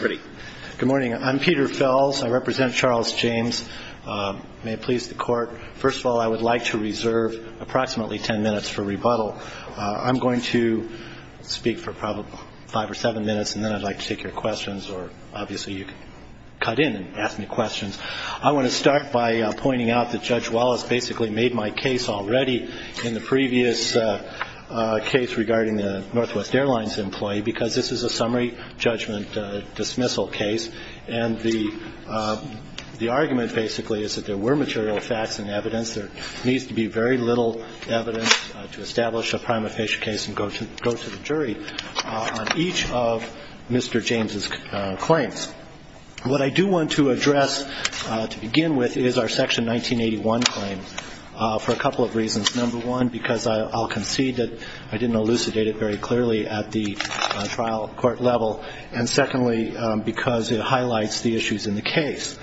Good morning. I'm Peter Fells. I represent Charles James. May it please the court. First of all, I would like to reserve approximately ten minutes for rebuttal. I'm going to speak for probably five or seven minutes and then I'd like to take your questions or obviously you can cut in and ask me questions. I want to start by pointing out that Judge Wallace basically made my case already in the previous case regarding the Northwest Airlines employee because this is a summary judgment dismissal case and the argument basically is that there were material facts and evidence. There needs to be very little evidence to establish a prima facie case and go to the jury on each of Mr. James' claims. What I do want to address to begin with is our Section 1981 claim for a couple of reasons. Number one, because I'll concede that I didn't elucidate it very clearly at the trial court level. And secondly, because it highlights the issues in the case.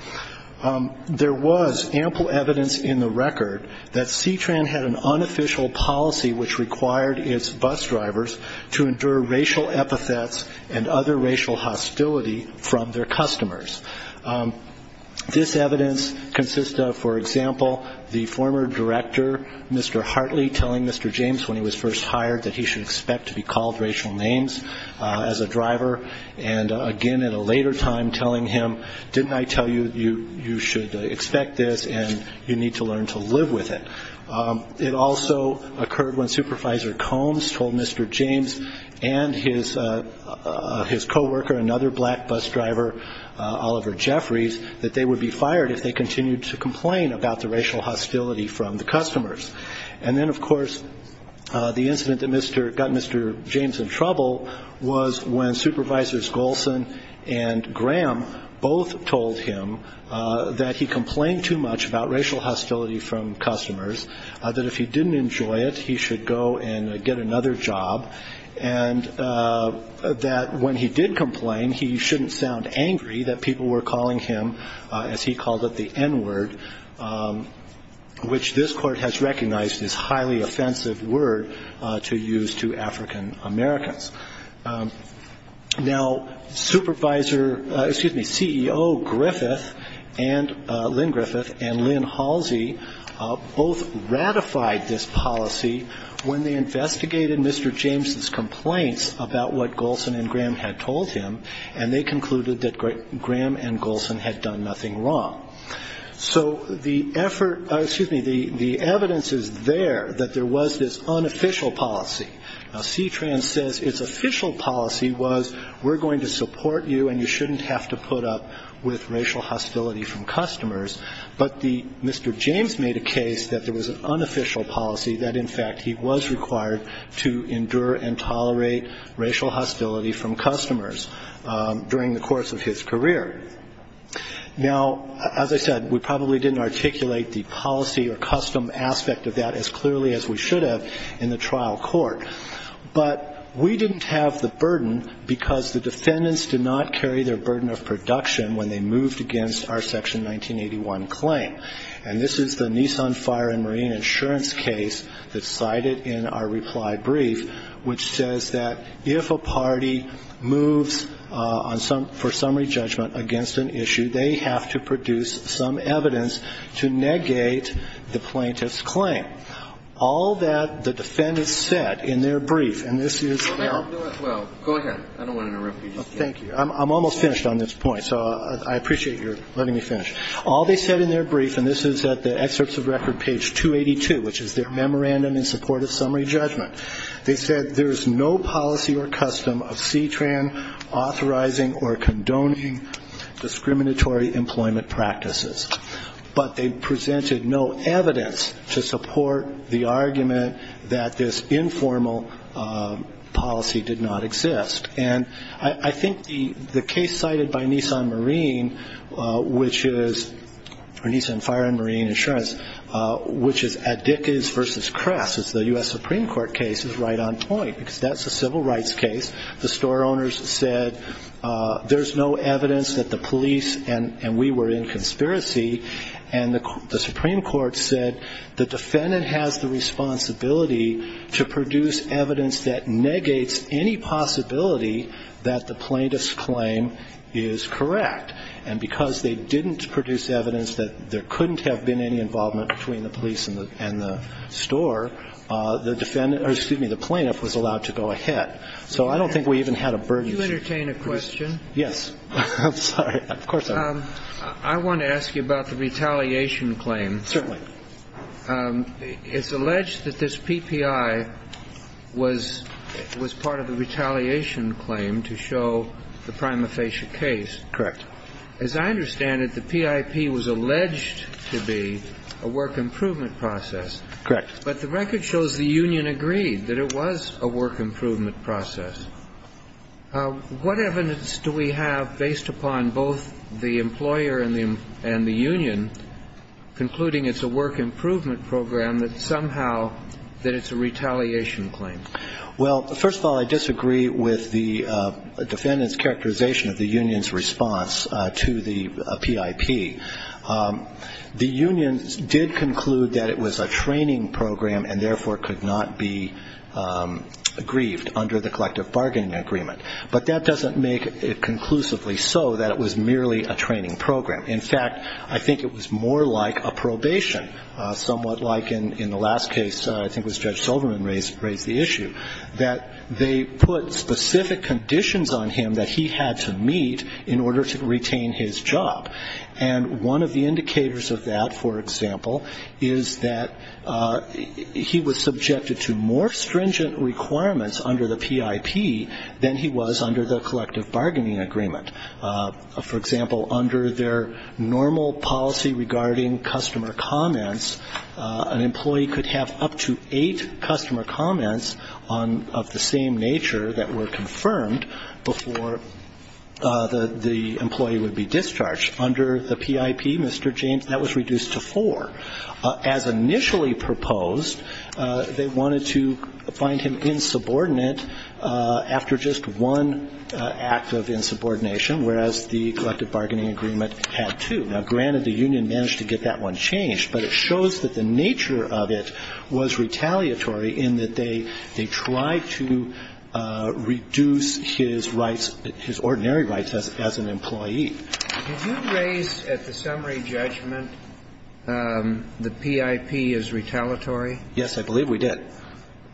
There was ample evidence in the record that C-Tran had an unofficial policy which required its bus drivers to endure racial epithets and other racial hostility from their customers. This evidence consists of, for example, the former director, Mr. Hartley, telling Mr. James when he was first hired that he should expect to be called racial names as a driver, and a judge, Mr. Hartley, again at a later time, telling him, didn't I tell you you should expect this and you need to learn to live with it. It also occurred when Supervisor Combs told Mr. James and his co-worker, another black bus driver, Oliver Jeffries, that they would be fired if they continued to complain about the racial hostility from the customers. And then, of course, the incident that got Mr. James in trouble was when Supervisors Golson and Graham both told him that he complained too much about racial hostility from customers, that if he didn't enjoy it, he should go and get another job, and that when he did complain, he shouldn't sound angry that people were calling him, as he called it, the N-word, which this court has recognized is a highly offensive word to use to African-Americans. Now, CEO Lynn Griffith and Lynn Halsey both ratified this policy when they investigated Mr. James's complaints about what Golson and Graham had told him, and they concluded that Graham and Golson had done nothing wrong. So the evidence is there that there was this unofficial policy. Now, CTRAN says it's an unofficial policy, but CTRAN says it's an unofficial policy. Now, Mr. James's official policy was we're going to support you, and you shouldn't have to put up with racial hostility from customers, but Mr. James made a case that there was an unofficial policy that, in fact, he was required to endure and tolerate racial hostility from customers during the course of his career. Now, as I said, we probably didn't articulate the policy or custom aspect of that as clearly as we should have in the trial court, but we didn't put up with racial hostility from customers. Now, we didn't have the burden because the defendants did not carry their burden of production when they moved against our Section 1981 claim, and this is the Nissan Fire and Marine Insurance case that's cited in our reply brief, which says that if a party moves for summary judgment against an issue, they have to produce some evidence to negate the plaintiff's claim. All that the defendants said in their brief, and this is their memorandum in support of summary judgment, they said there's no policy or custom of CTRAN authorizing or condoning discriminatory employment practices, but they presented no evidence to support their claim. So we weren't really able to negotiate with the court the argument that this informal policy did not exist. And I think the case cited by Nissan Fire and Marine Insurance, which is Addycos v. Crest, which is the US Supreme Court case, is right on point, because that's a civil rights case. The store owners said there's no evidence that the police, and we were in conspiracy. And the Supreme Court said the defendant has the responsibility to produce evidence that negates any possibility that the plaintiff's claim is correct. And because they didn't produce evidence that there couldn't have been any involvement between the police and the store, the defendant or, excuse me, the plaintiff was allowed to go ahead. So I don't think we even had a burden. And I think the reason that the plaintiff had to go ahead and go ahead and do that was because they were not willing to do that, and it was not a matter of whether they were willing to do it or not. I'm sorry. I'm sorry. Could you entertain a question? Yes. I'm sorry. I want to ask you about the retaliation claim. Certainly. It's alleged that this PPI was part of the retaliation claim to show the prima facie case. Correct. As I understand it, the PIP was alleged to be a work improvement process. Correct. But the record shows the union agreed that it was a work improvement process. What evidence do we have based upon both the employer and the union concluding it's a work improvement process? Well, first of all, I disagree with the defendant's characterization of the union's response to the PIP. The union did conclude that it was a training program and, therefore, could not be aggrieved under the collective bargaining agreement. But that doesn't make it conclusively so that it was merely a training program. In fact, I think it was more like a probation, somewhat like in the last case, I think it was Judge Silverman raised the issue, that they put specific conditions on him that he had to meet in order to retain his job. And one of the indicators of that, for example, is that he was subjected to more stringent requirements under the PIP than he was under the collective bargaining agreement. For example, under their normal policy regarding customer comments, an employee could have up to eight customer comments of the same nature that were confirmed before the employee would be discharged. Under the PIP, Mr. James, that was reduced to four. As initially proposed, they wanted to find him insubordinate after just one act of insubordination. Whereas the collective bargaining agreement had two. Now, granted, the union managed to get that one changed, but it shows that the nature of it was retaliatory in that they tried to reduce his rights, his ordinary rights as an employee. Did you raise at the summary judgment the PIP is retaliatory? Yes, I believe we did.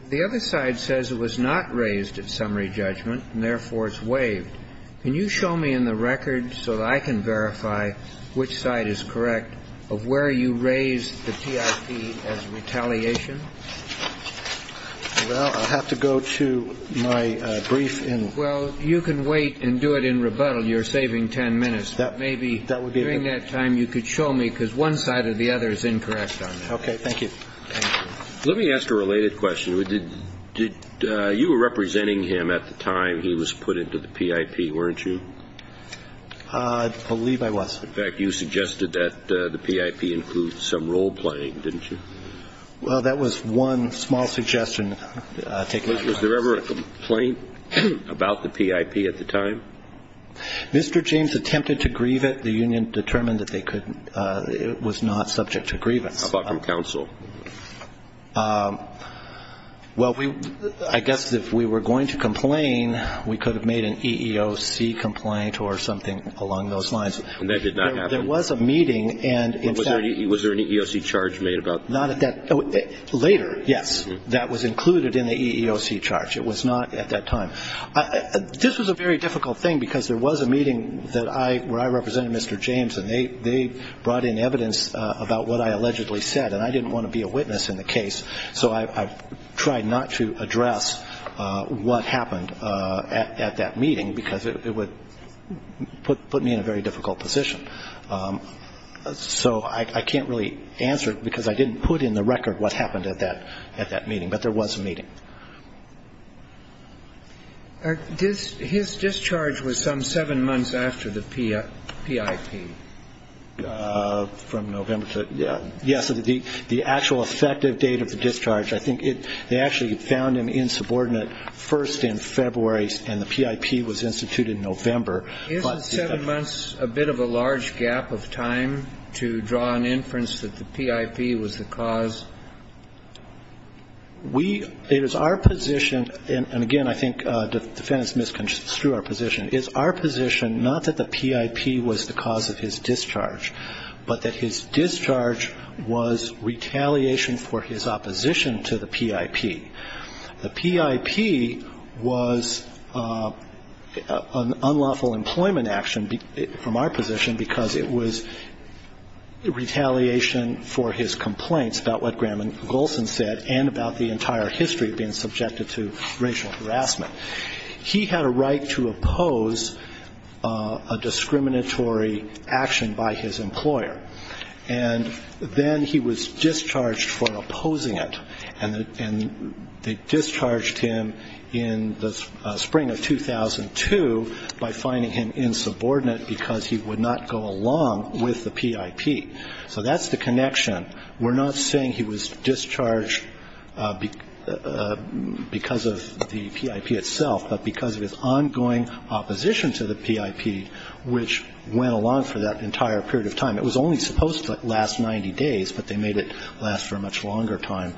The other side says it was not raised at summary judgment, and therefore it's waived. Can you show me in the record so that I can verify which side is correct of where you raised the PIP as retaliation? Well, I'll have to go to my brief in... Well, you can wait and do it in rebuttal. You're saving ten minutes. Maybe during that time you could show me, because one side or the other is incorrect on that. Okay, thank you. Let me ask a related question. You were representing him at the time he was put into the PIP, weren't you? I believe I was. In fact, you suggested that the PIP included some role-playing, didn't you? Well, that was one small suggestion. Was there ever a complaint about the PIP at the time? Mr. James attempted to grieve it. The union determined that it was not subject to grievance. How about from counsel? Well, I guess if we were going to complain, we could have made an EEOC complaint or something along those lines. And that did not happen? Was there an EEOC charge made about it? Later, yes, that was included in the EEOC charge. It was not at that time. This was a very difficult thing because there was a meeting where I represented Mr. James, and they brought in evidence about what I allegedly said, and I didn't want to be a witness in the case, so I tried not to address what happened at that meeting because it would put me in a very difficult position. So I can't really answer it because I didn't put in the record what happened at that meeting. But there was a meeting. His discharge was some seven months after the PIP. From November. Yes, the actual effective date of the discharge, I think they actually found him insubordinate first in February, and the PIP was instituted in November. Isn't seven months a bit of a large gap of time to draw an inference that the PIP was the cause? We – it is our position, and again, I think the defense misconstrued our position. It's our position not that the PIP was the cause of his discharge, but that his discharge was retaliation for his opposition to the PIP. The PIP was an unlawful employment action from our position because it was retaliation for his complaints about what Graham and Golsan said and about the entire history of being subjected to racial harassment. He had a right to oppose a discriminatory action by his employer, and then he was discharged for opposing it, and they discharged him in the spring of 2002 by finding him insubordinate because he would not go along with the PIP. So that's the connection. We're not saying he was discharged because of the PIP itself, but because of his ongoing opposition to the PIP, which went along for that entire period of time. It was only supposed to last 90 days, but they made it last for a much longer time.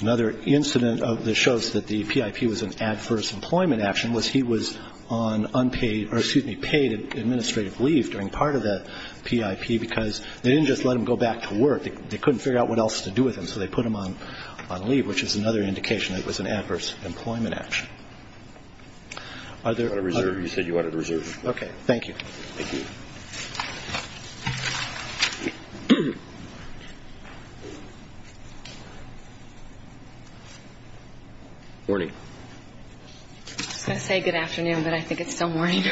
Another incident that shows that the PIP was an adverse employment action was he was on unpaid or, excuse me, paid administrative leave during part of that PIP because they didn't just let him go back to work. They couldn't figure out what else to do with him, so they put him on leave, which is another indication that it was an adverse employment action. Are there other... I was going to say good afternoon, but I think it's still morning.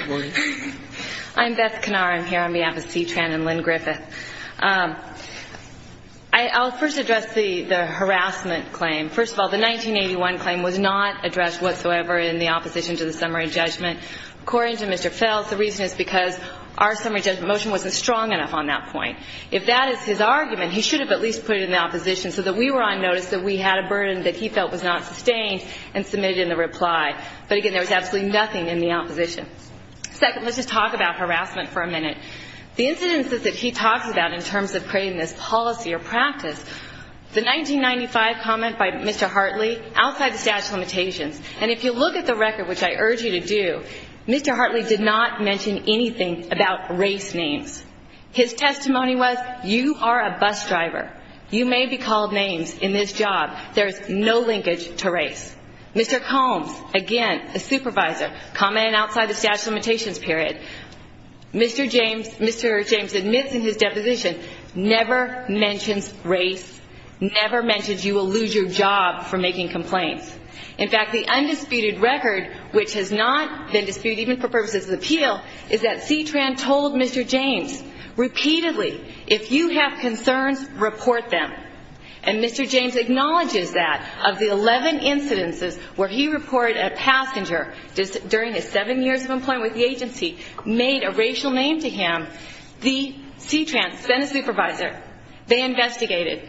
I'm Beth Knarr. I'm here on behalf of CTRAN and Lynn Griffith. I'll first address the harassment claim. First of all, the 1981 claim was not addressed whatsoever in the opposition to the summary judgment. According to Mr. Feltz, the reason is because our summary judgment motion wasn't strong enough on that point. If that is his argument, he should have at least put it in the opposition so that we were on notice that we had a burden that he felt was not sustained and submitted in the reply. But again, there was absolutely nothing in the opposition. Second, let's just talk about harassment for a minute. The incidents that he talks about in terms of creating this policy or practice, the 1995 comment by Mr. Hartley, outside the statute of limitations, and if you look at the record, which I urge you to do, Mr. Hartley did not mention anything about race names. His testimony was, you are a bus driver. You may be called names in this job. There is no linkage to race. Mr. Combs, again, a supervisor, commented outside the statute of limitations period. Mr. James admits in his deposition, never mentions race, never mentions you will lose your job for making complaints. In fact, the undisputed record, which has not been disputed even for purposes of appeal, is that CTRAN told Mr. James repeatedly, if you have concerns, report them. And Mr. James acknowledges that. Of the 11 incidences where he reported a passenger during his seven years of employment with the agency made a racial name to him, the CTRAN sent a supervisor. They investigated.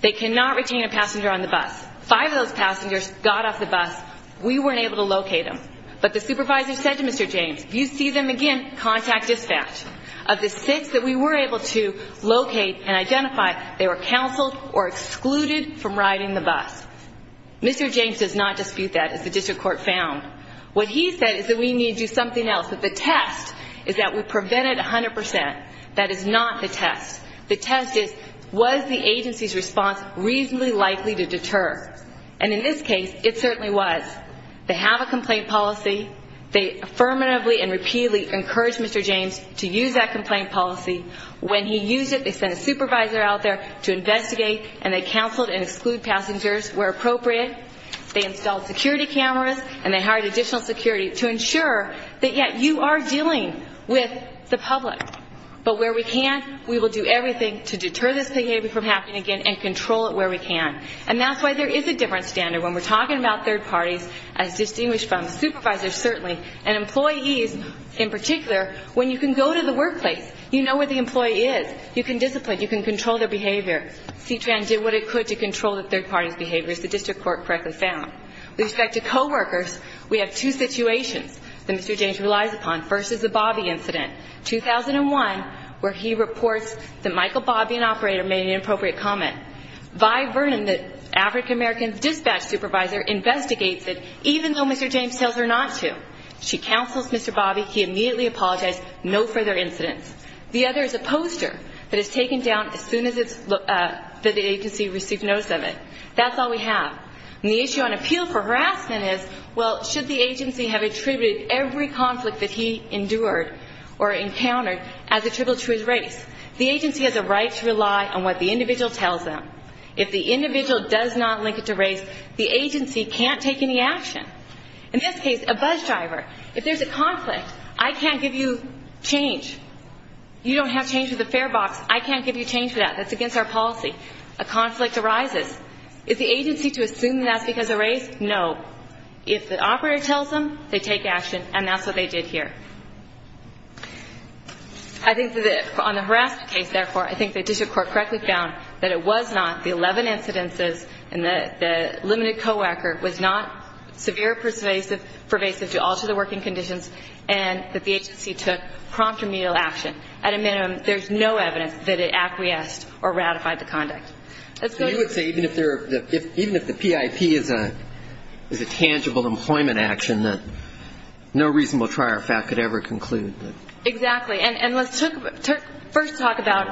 They cannot retain a passenger on the bus. Five of those passengers got off the bus. We weren't able to locate them. But the supervisor said to Mr. James, if you see them again, contact dispatch. Of the six that we were able to locate and identify, they were counseled or excluded from riding the bus. Mr. James does not dispute that, as the district court found. What he said is that we need to do something else. But the test is that we prevented 100%. That is not the test. The test is, was the agency's response reasonably likely to deter? And in this case, it certainly was. They have a complaint policy. They affirmatively and repeatedly encouraged Mr. James to use that complaint policy. When he used it, they sent a supervisor out there to investigate, and they counseled and excluded passengers where appropriate. They installed security cameras, and they hired additional security to ensure that, yes, you are dealing with the public. But where we can, we will do everything to deter this behavior from happening again and control it where we can. And that's why there is a different standard when we're talking about third parties, as distinguished from supervisors certainly, and employees in particular, when you can go to the workplace, you know where the employee is. You can discipline, you can control their behavior. CTRAN did what it could to control the third party's behavior, as the district court correctly found. With respect to coworkers, we have two situations that Mr. James relies upon. First is the Bobby incident, 2001, where he reports that Michael Bobby, an operator, made an inappropriate comment. Vi Vernon, the African-American's dispatch supervisor, investigates it, even though Mr. James tells her not to. She counsels Mr. Bobby. He immediately apologizes. No further incidents. The other is a poster that is taken down as soon as the agency received notice of it. That's all we have. And the issue on appeal for harassment is, well, should the agency have attributed every conflict that he endured or encountered as attributable to his race? The agency has a right to rely on what the individual tells them. If the individual does not link it to race, the agency can't take any action. In this case, a bus driver. If there's a conflict, I can't give you change. You don't have change with the fare box. I can't give you change for that. That's against our policy. A conflict arises. Is the agency to assume that's because of race? No. If the operator tells them, they take action, and that's what they did here. I think that on the harassment case, therefore, I think the district court correctly found that it was not the 11 incidences and the limited co-worker was not severe pervasive to alter the working conditions, and that the agency took prompt remedial action. At a minimum, there's no evidence that it acquiesced or ratified the conduct. Let's go to the next slide. Even if the PIP is a tangible employment action that no reasonable trier of fact could ever conclude. Exactly. And let's first talk about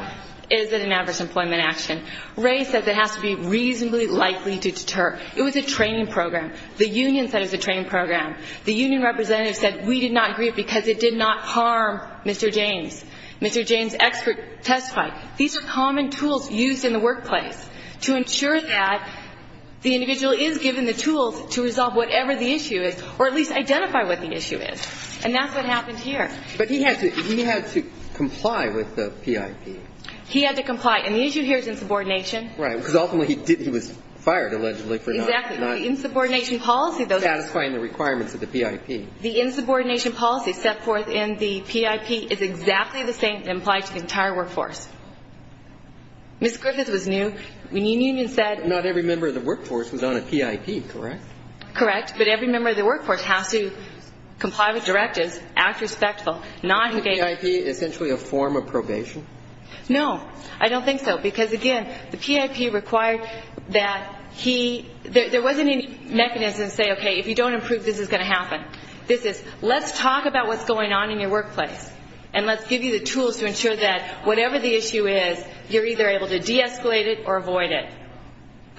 is it an adverse employment action. Ray said it has to be reasonably likely to deter. It was a training program. The union said it was a training program. The union representative said we did not agree because it did not harm Mr. James. Mr. James expert testified. These are common tools used in the workplace to ensure that the individual is given the tools to resolve whatever the issue is, or at least identify what the issue is. And that's what happened here. But he had to comply with the PIP. He had to comply. And the issue here is insubordination. Right. Because ultimately he was fired, allegedly, for not. Exactly. The insubordination policy, though. Satisfying the requirements of the PIP. The insubordination policy set forth in the PIP is exactly the same that applies to the entire workforce. Ms. Griffith was new. The union said. Not every member of the workforce was on a PIP, correct? Correct. But every member of the workforce has to comply with directives, act respectful, not engage. Is the PIP essentially a form of probation? No. I don't think so. Because, again, the PIP required that he, there wasn't any mechanism to say, okay, if you don't improve, this is going to happen. This is, let's talk about what's going on in your workplace. And let's give you the tools to ensure that whatever the issue is, you're either able to deescalate it or avoid it.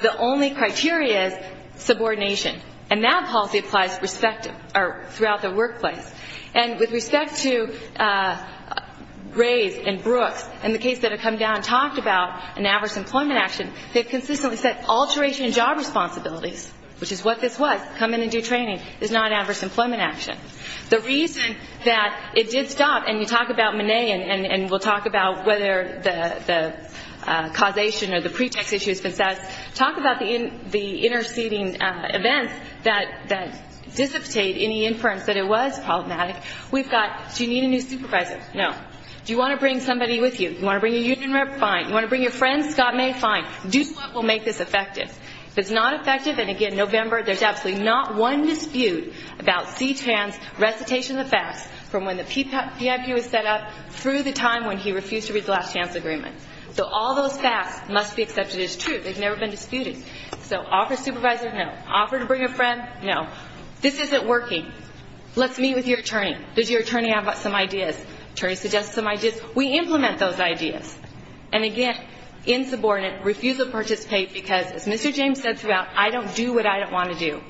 The only criteria is subordination. And that policy applies throughout the workplace. And with respect to Graves and Brooks and the case that had come down and talked about an adverse employment action, they've consistently said alteration in job responsibilities, which is what this was, come in and do training, is not an adverse employment action. The reason that it did stop, and we talk about Mone and we'll talk about whether the causation or the pretext issue has been assessed, talk about the interceding events that dissipate any inference that it was problematic. We've got, do you need a new supervisor? No. Do you want to bring somebody with you? Do you want to bring a union rep? Fine. Do you want to bring your friends? Scott May? Fine. Do what will make this effective. If it's not effective, and again, November, there's absolutely not one dispute about CTAN's recitation of the facts from when the PIP was set up through the time when he refused to read the last chance agreement. So all those facts must be accepted as truth. They've never been disputed. So offer supervisor, no. Offer to bring a friend, no. This isn't working. Let's meet with your attorney. Does your attorney have some ideas? Attorney suggests some ideas. We implement those ideas. And again, insubordinate, refusal to participate because, as Mr. James said throughout, I don't do what I don't want to do.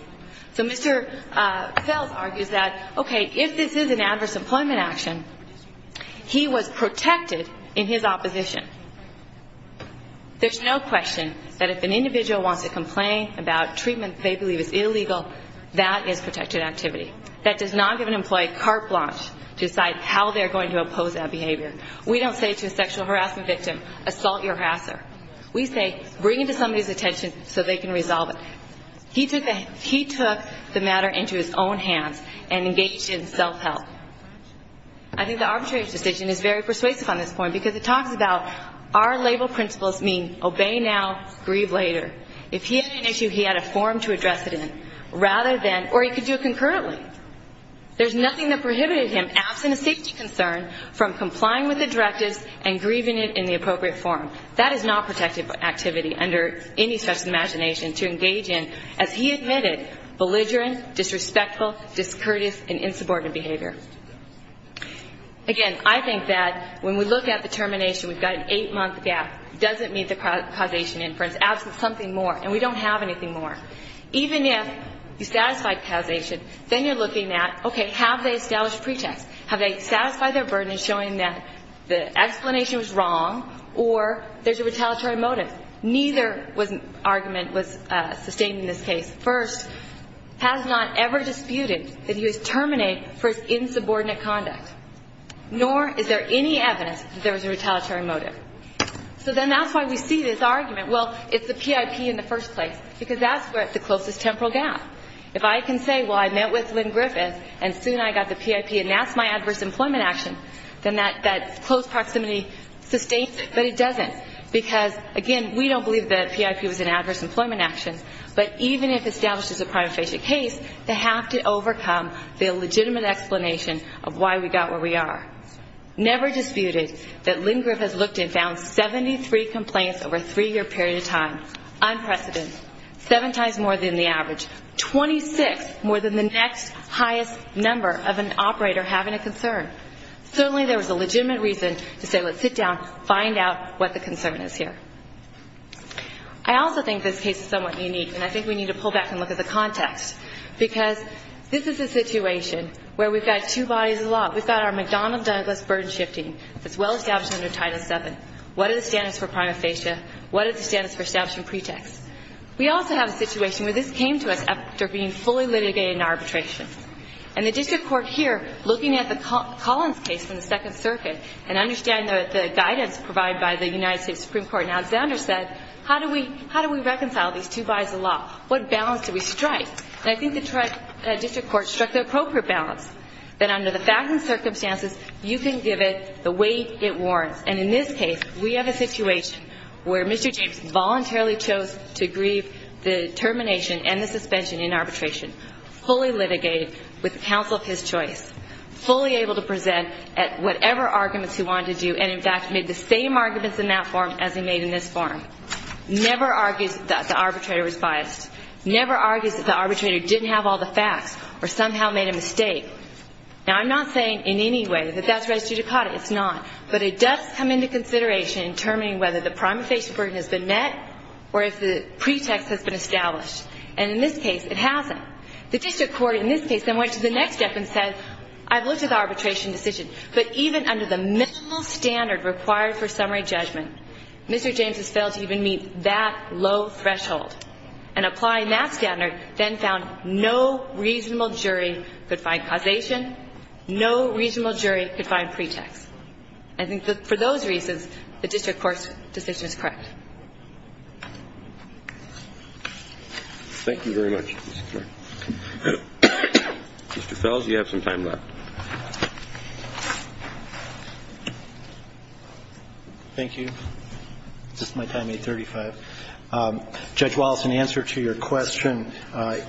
So Mr. Fells argues that, okay, if this is an adverse employment action, he was protected in his opposition. There's no question that if an individual wants to complain about treatment they believe is illegal, that is protected activity. That does not give an employee carte blanche to decide how they're going to oppose that behavior. We don't say to a sexual harassment victim, assault your harasser. We say, bring it to somebody's attention so they can resolve it. He took the matter into his own hands and engaged in self-help. I think the arbitration decision is very persuasive on this point because it talks about our label principles mean obey now, grieve later. If he had an issue, he had a form to address it in rather than, or he could do it concurrently. There's nothing that prohibited him, absent a safety concern, from complying with the directives and grieving it in the appropriate form. That is not protected activity under any such imagination to engage in, as he admitted, belligerent, disrespectful, discourteous, and insubordinate behavior. Again, I think that when we look at the termination, we've got an eight-month gap. It doesn't meet the causation inference. Absent something more, and we don't have anything more. Even if you satisfy causation, then you're looking at, okay, have they established a pretext? Have they satisfied their burden in showing that the explanation was wrong or there's a retaliatory motive? Neither argument was sustained in this case. has not ever disputed that he was terminated for his insubordinate conduct, nor is there any evidence that there was a retaliatory motive. So then that's why we see this argument, well, it's the PIP in the first place, because that's the closest temporal gap. If I can say, well, I met with Lynn Griffith, and soon I got the PIP, and that's my adverse employment action, then that close proximity sustains it, but it doesn't, because, again, we don't believe the PIP was an adverse employment action, but even if established as a prima facie case, they have to overcome the illegitimate explanation of why we got where we are. Never disputed that Lynn Griffith has looked and found 73 complaints over a three-year period of time, unprecedented, seven times more than the average, 26 more than the next highest number of an operator having a concern. Certainly there was a legitimate reason to say, let's sit down, find out what the concern is here. I also think this case is somewhat unique, and I think we need to pull back and look at the context, because this is a situation where we've got two bodies of law. We've got our McDonnell-Douglas burden shifting that's well established under Title VII. What are the standards for prima facie? What are the standards for establishing pretext? We also have a situation where this came to us after being fully litigated in arbitration, and the district court here, looking at the Collins case in the Second Circuit and understand that the guidance provided by the United States Supreme Court and Alexander said, how do we reconcile these two bodies of law? What balance do we strike? And I think the district court struck the appropriate balance, that under the facts and circumstances, you can give it the weight it warrants. And in this case, we have a situation where Mr. James voluntarily chose to agree the termination and the suspension in arbitration, fully litigated with the counsel of his choice, fully able to present at whatever arguments he wanted to do and, in fact, made the same arguments in that form as he made in this form, never argues that the arbitrator was biased, never argues that the arbitrator didn't have all the facts or somehow made a mistake. Now, I'm not saying in any way that that's res judicata. It's not. But it does come into consideration in determining whether the prima facie burden has been met or if the pretext has been established. And in this case, it hasn't. The district court in this case then went to the next step and said, I've looked at the arbitration decision, but even under the minimal standard required for summary judgment, Mr. James has failed to even meet that low threshold. And applying that standard then found no reasonable jury could find causation, no reasonable jury could find pretext. I think that for those reasons, the district court's decision is correct. Thank you very much. Mr. Fels, you have some time left. Thank you. Is this my time? 835. Judge Wallace, in answer to your question,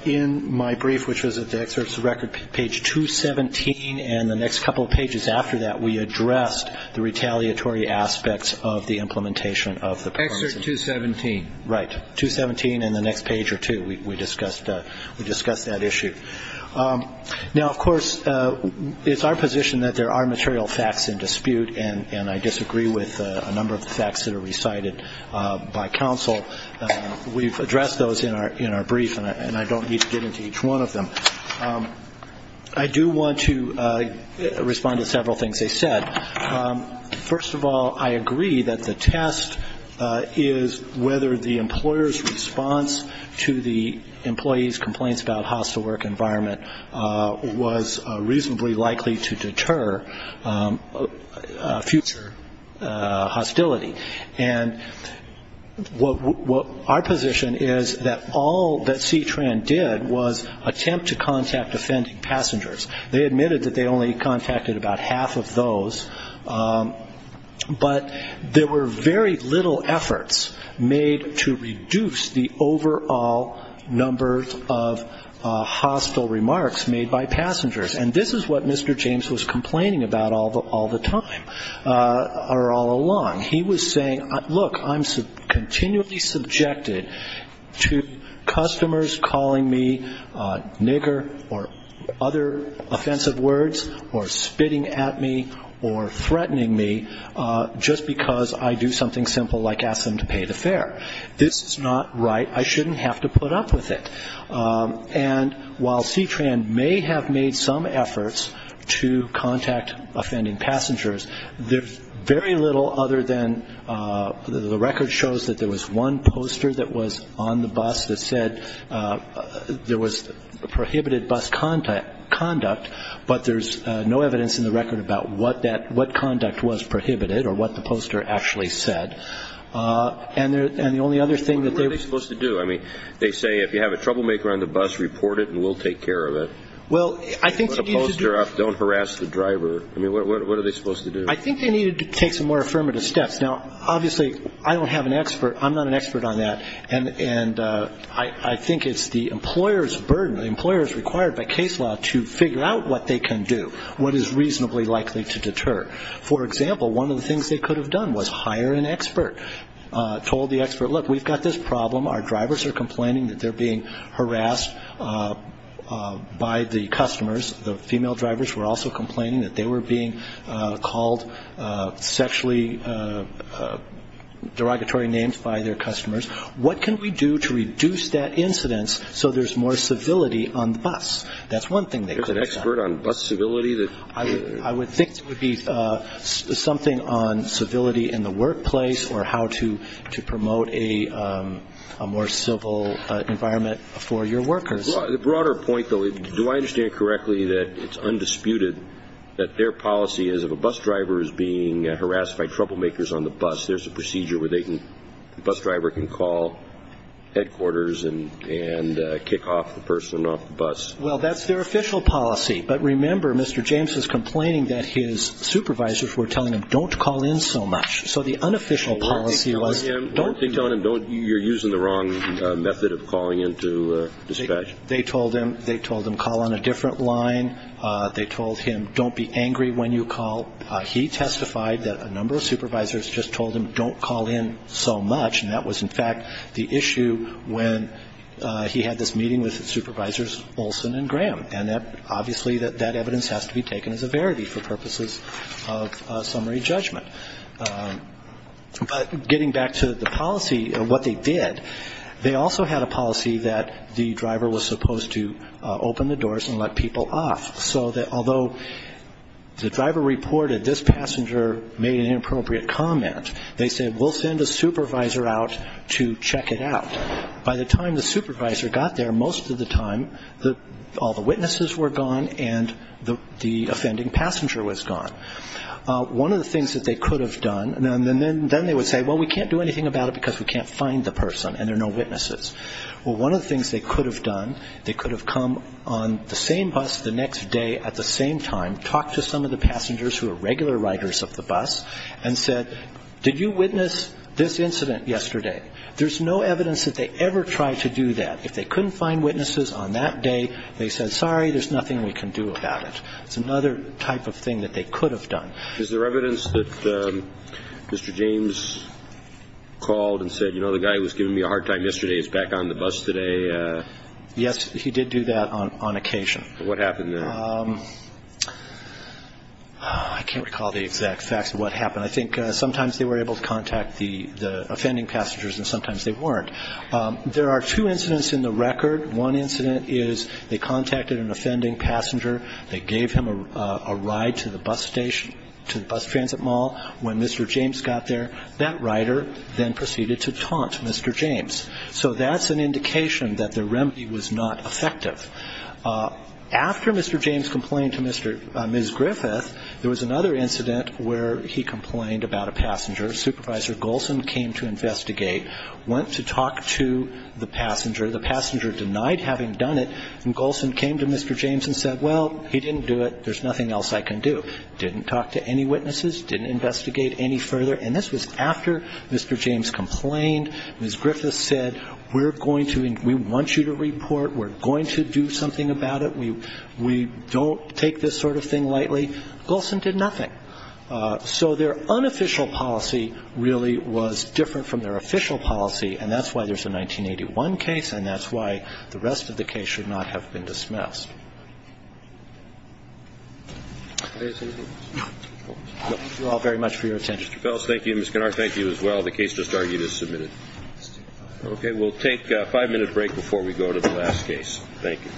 in my brief, which was at the excerpts of the record, page 217, and the next couple of pages after that, we addressed the retaliatory aspects of the implementation of the plan. Excerpt 217. Right. 217 and the next page or two, we discussed that issue. Now, of course, it's our position that there are material facts in dispute, and I disagree with a number of the facts that are recited by counsel. We've addressed those in our brief, and I don't need to get into each one of them. I do want to respond to several things they said. First of all, I agree that the test is whether the employer's response to the employee's complaints about hostile work environment was reasonably likely to deter future hostility. And our position is that all that CTRAN did was attempt to contact offending passengers. They admitted that they only contacted about half of those, but there were very little efforts made to reduce the overall number of hostile remarks made by passengers. And this is what Mr. James was complaining about all the time or all along. He was saying, look, I'm continually subjected to customers calling me nigger or other offensive words or spitting at me or threatening me just because I do something simple like ask them to pay the fare. This is not right. I shouldn't have to put up with it. And while CTRAN may have made some efforts to contact offending passengers, there's very little other than the record shows that there was one poster that was on the bus that said there was prohibited bus conduct, but there's no evidence in the record about what conduct was prohibited or what the poster actually said. And the only other thing that they were supposed to do, I mean, they say if you have a troublemaker on the bus, report it and we'll take care of it. Well, I think the poster up, don't harass the driver. I mean, what are they supposed to do? I think they needed to take some more affirmative steps. Now, obviously, I don't have an expert. I'm not an expert on that. And I think it's the employer's burden. The employer is required by case law to figure out what they can do, what is reasonably likely to deter. For example, one of the things they could have done was hire an expert, told the expert, look, we've got this problem. Our drivers are complaining that they're being harassed by the customers. The female drivers were also complaining that they were being called sexually derogatory names by their customers. What can we do to reduce that incidence so there's more civility on the bus? That's one thing they could have done. An expert on bus civility? I would think it would be something on civility in the workplace or how to promote a more civil environment for your workers. The broader point, though, do I understand correctly that it's undisputed that their policy is if a bus driver is being harassed by troublemakers on the bus, there's a procedure where the bus driver can call headquarters and kick off the person off the bus? Well, that's their official policy. But remember, Mr. James is complaining that his supervisors were telling him don't call in so much. So the unofficial policy was don't call in. They told him call on a different line. They told him don't be angry when you call. He testified that a number of supervisors just told him don't call in so much. And that was, in fact, the issue when he had this meeting with Supervisors Olson and Graham. And obviously that evidence has to be taken as a verity for purposes of summary judgment. But getting back to the policy and what they did, they also had a policy that the driver was supposed to open the doors and let people off. So although the driver reported this passenger made an inappropriate comment, they said we'll send a supervisor out to check it out. By the time the supervisor got there, most of the time all the witnesses were gone and the offending passenger was gone. One of the things that they could have done, and then they would say, well, we can't do anything about it because we can't find the person and there are no witnesses. Well, one of the things they could have done, they could have come on the same bus the next day at the same time, talked to some of the passengers who are regular riders of the bus, and said, did you witness this incident yesterday? There's no evidence that they ever tried to do that. If they couldn't find witnesses on that day, they said, sorry, there's nothing we can do about it. It's another type of thing that they could have done. Is there evidence that Mr. James called and said, you know, the guy who was giving me a hard time yesterday is back on the bus today? Yes, he did do that on occasion. What happened then? I can't recall the exact facts of what happened. I think sometimes they were able to contact the offending passengers and sometimes they weren't. There are two incidents in the record. One incident is they contacted an offending passenger. They gave him a ride to the bus station, to the bus transit mall. When Mr. James got there, that rider then proceeded to taunt Mr. James. So that's an indication that the remedy was not effective. After Mr. James complained to Ms. Griffith, there was another incident where he complained about a passenger. Supervisor Golson came to investigate, went to talk to the passenger. The passenger denied having done it, and Golson came to Mr. James and said, well, he didn't do it. There's nothing else I can do. Didn't talk to any witnesses. Didn't investigate any further. And this was after Mr. James complained. Ms. Griffith said, we're going to and we want you to report. We're going to do something about it. We don't take this sort of thing lightly. Golson did nothing. So their unofficial policy really was different from their official policy, and that's why there's a 1981 case, and that's why the rest of the case should not have been dismissed. Thank you all very much for your attention. Thank you. Ms. Kennard, thank you as well. The case just argued is submitted. Okay. We'll take a five-minute break before we go to the last case. Thank you. All right. We'll have a break. This court stands in the defense of five minutes. Thank you.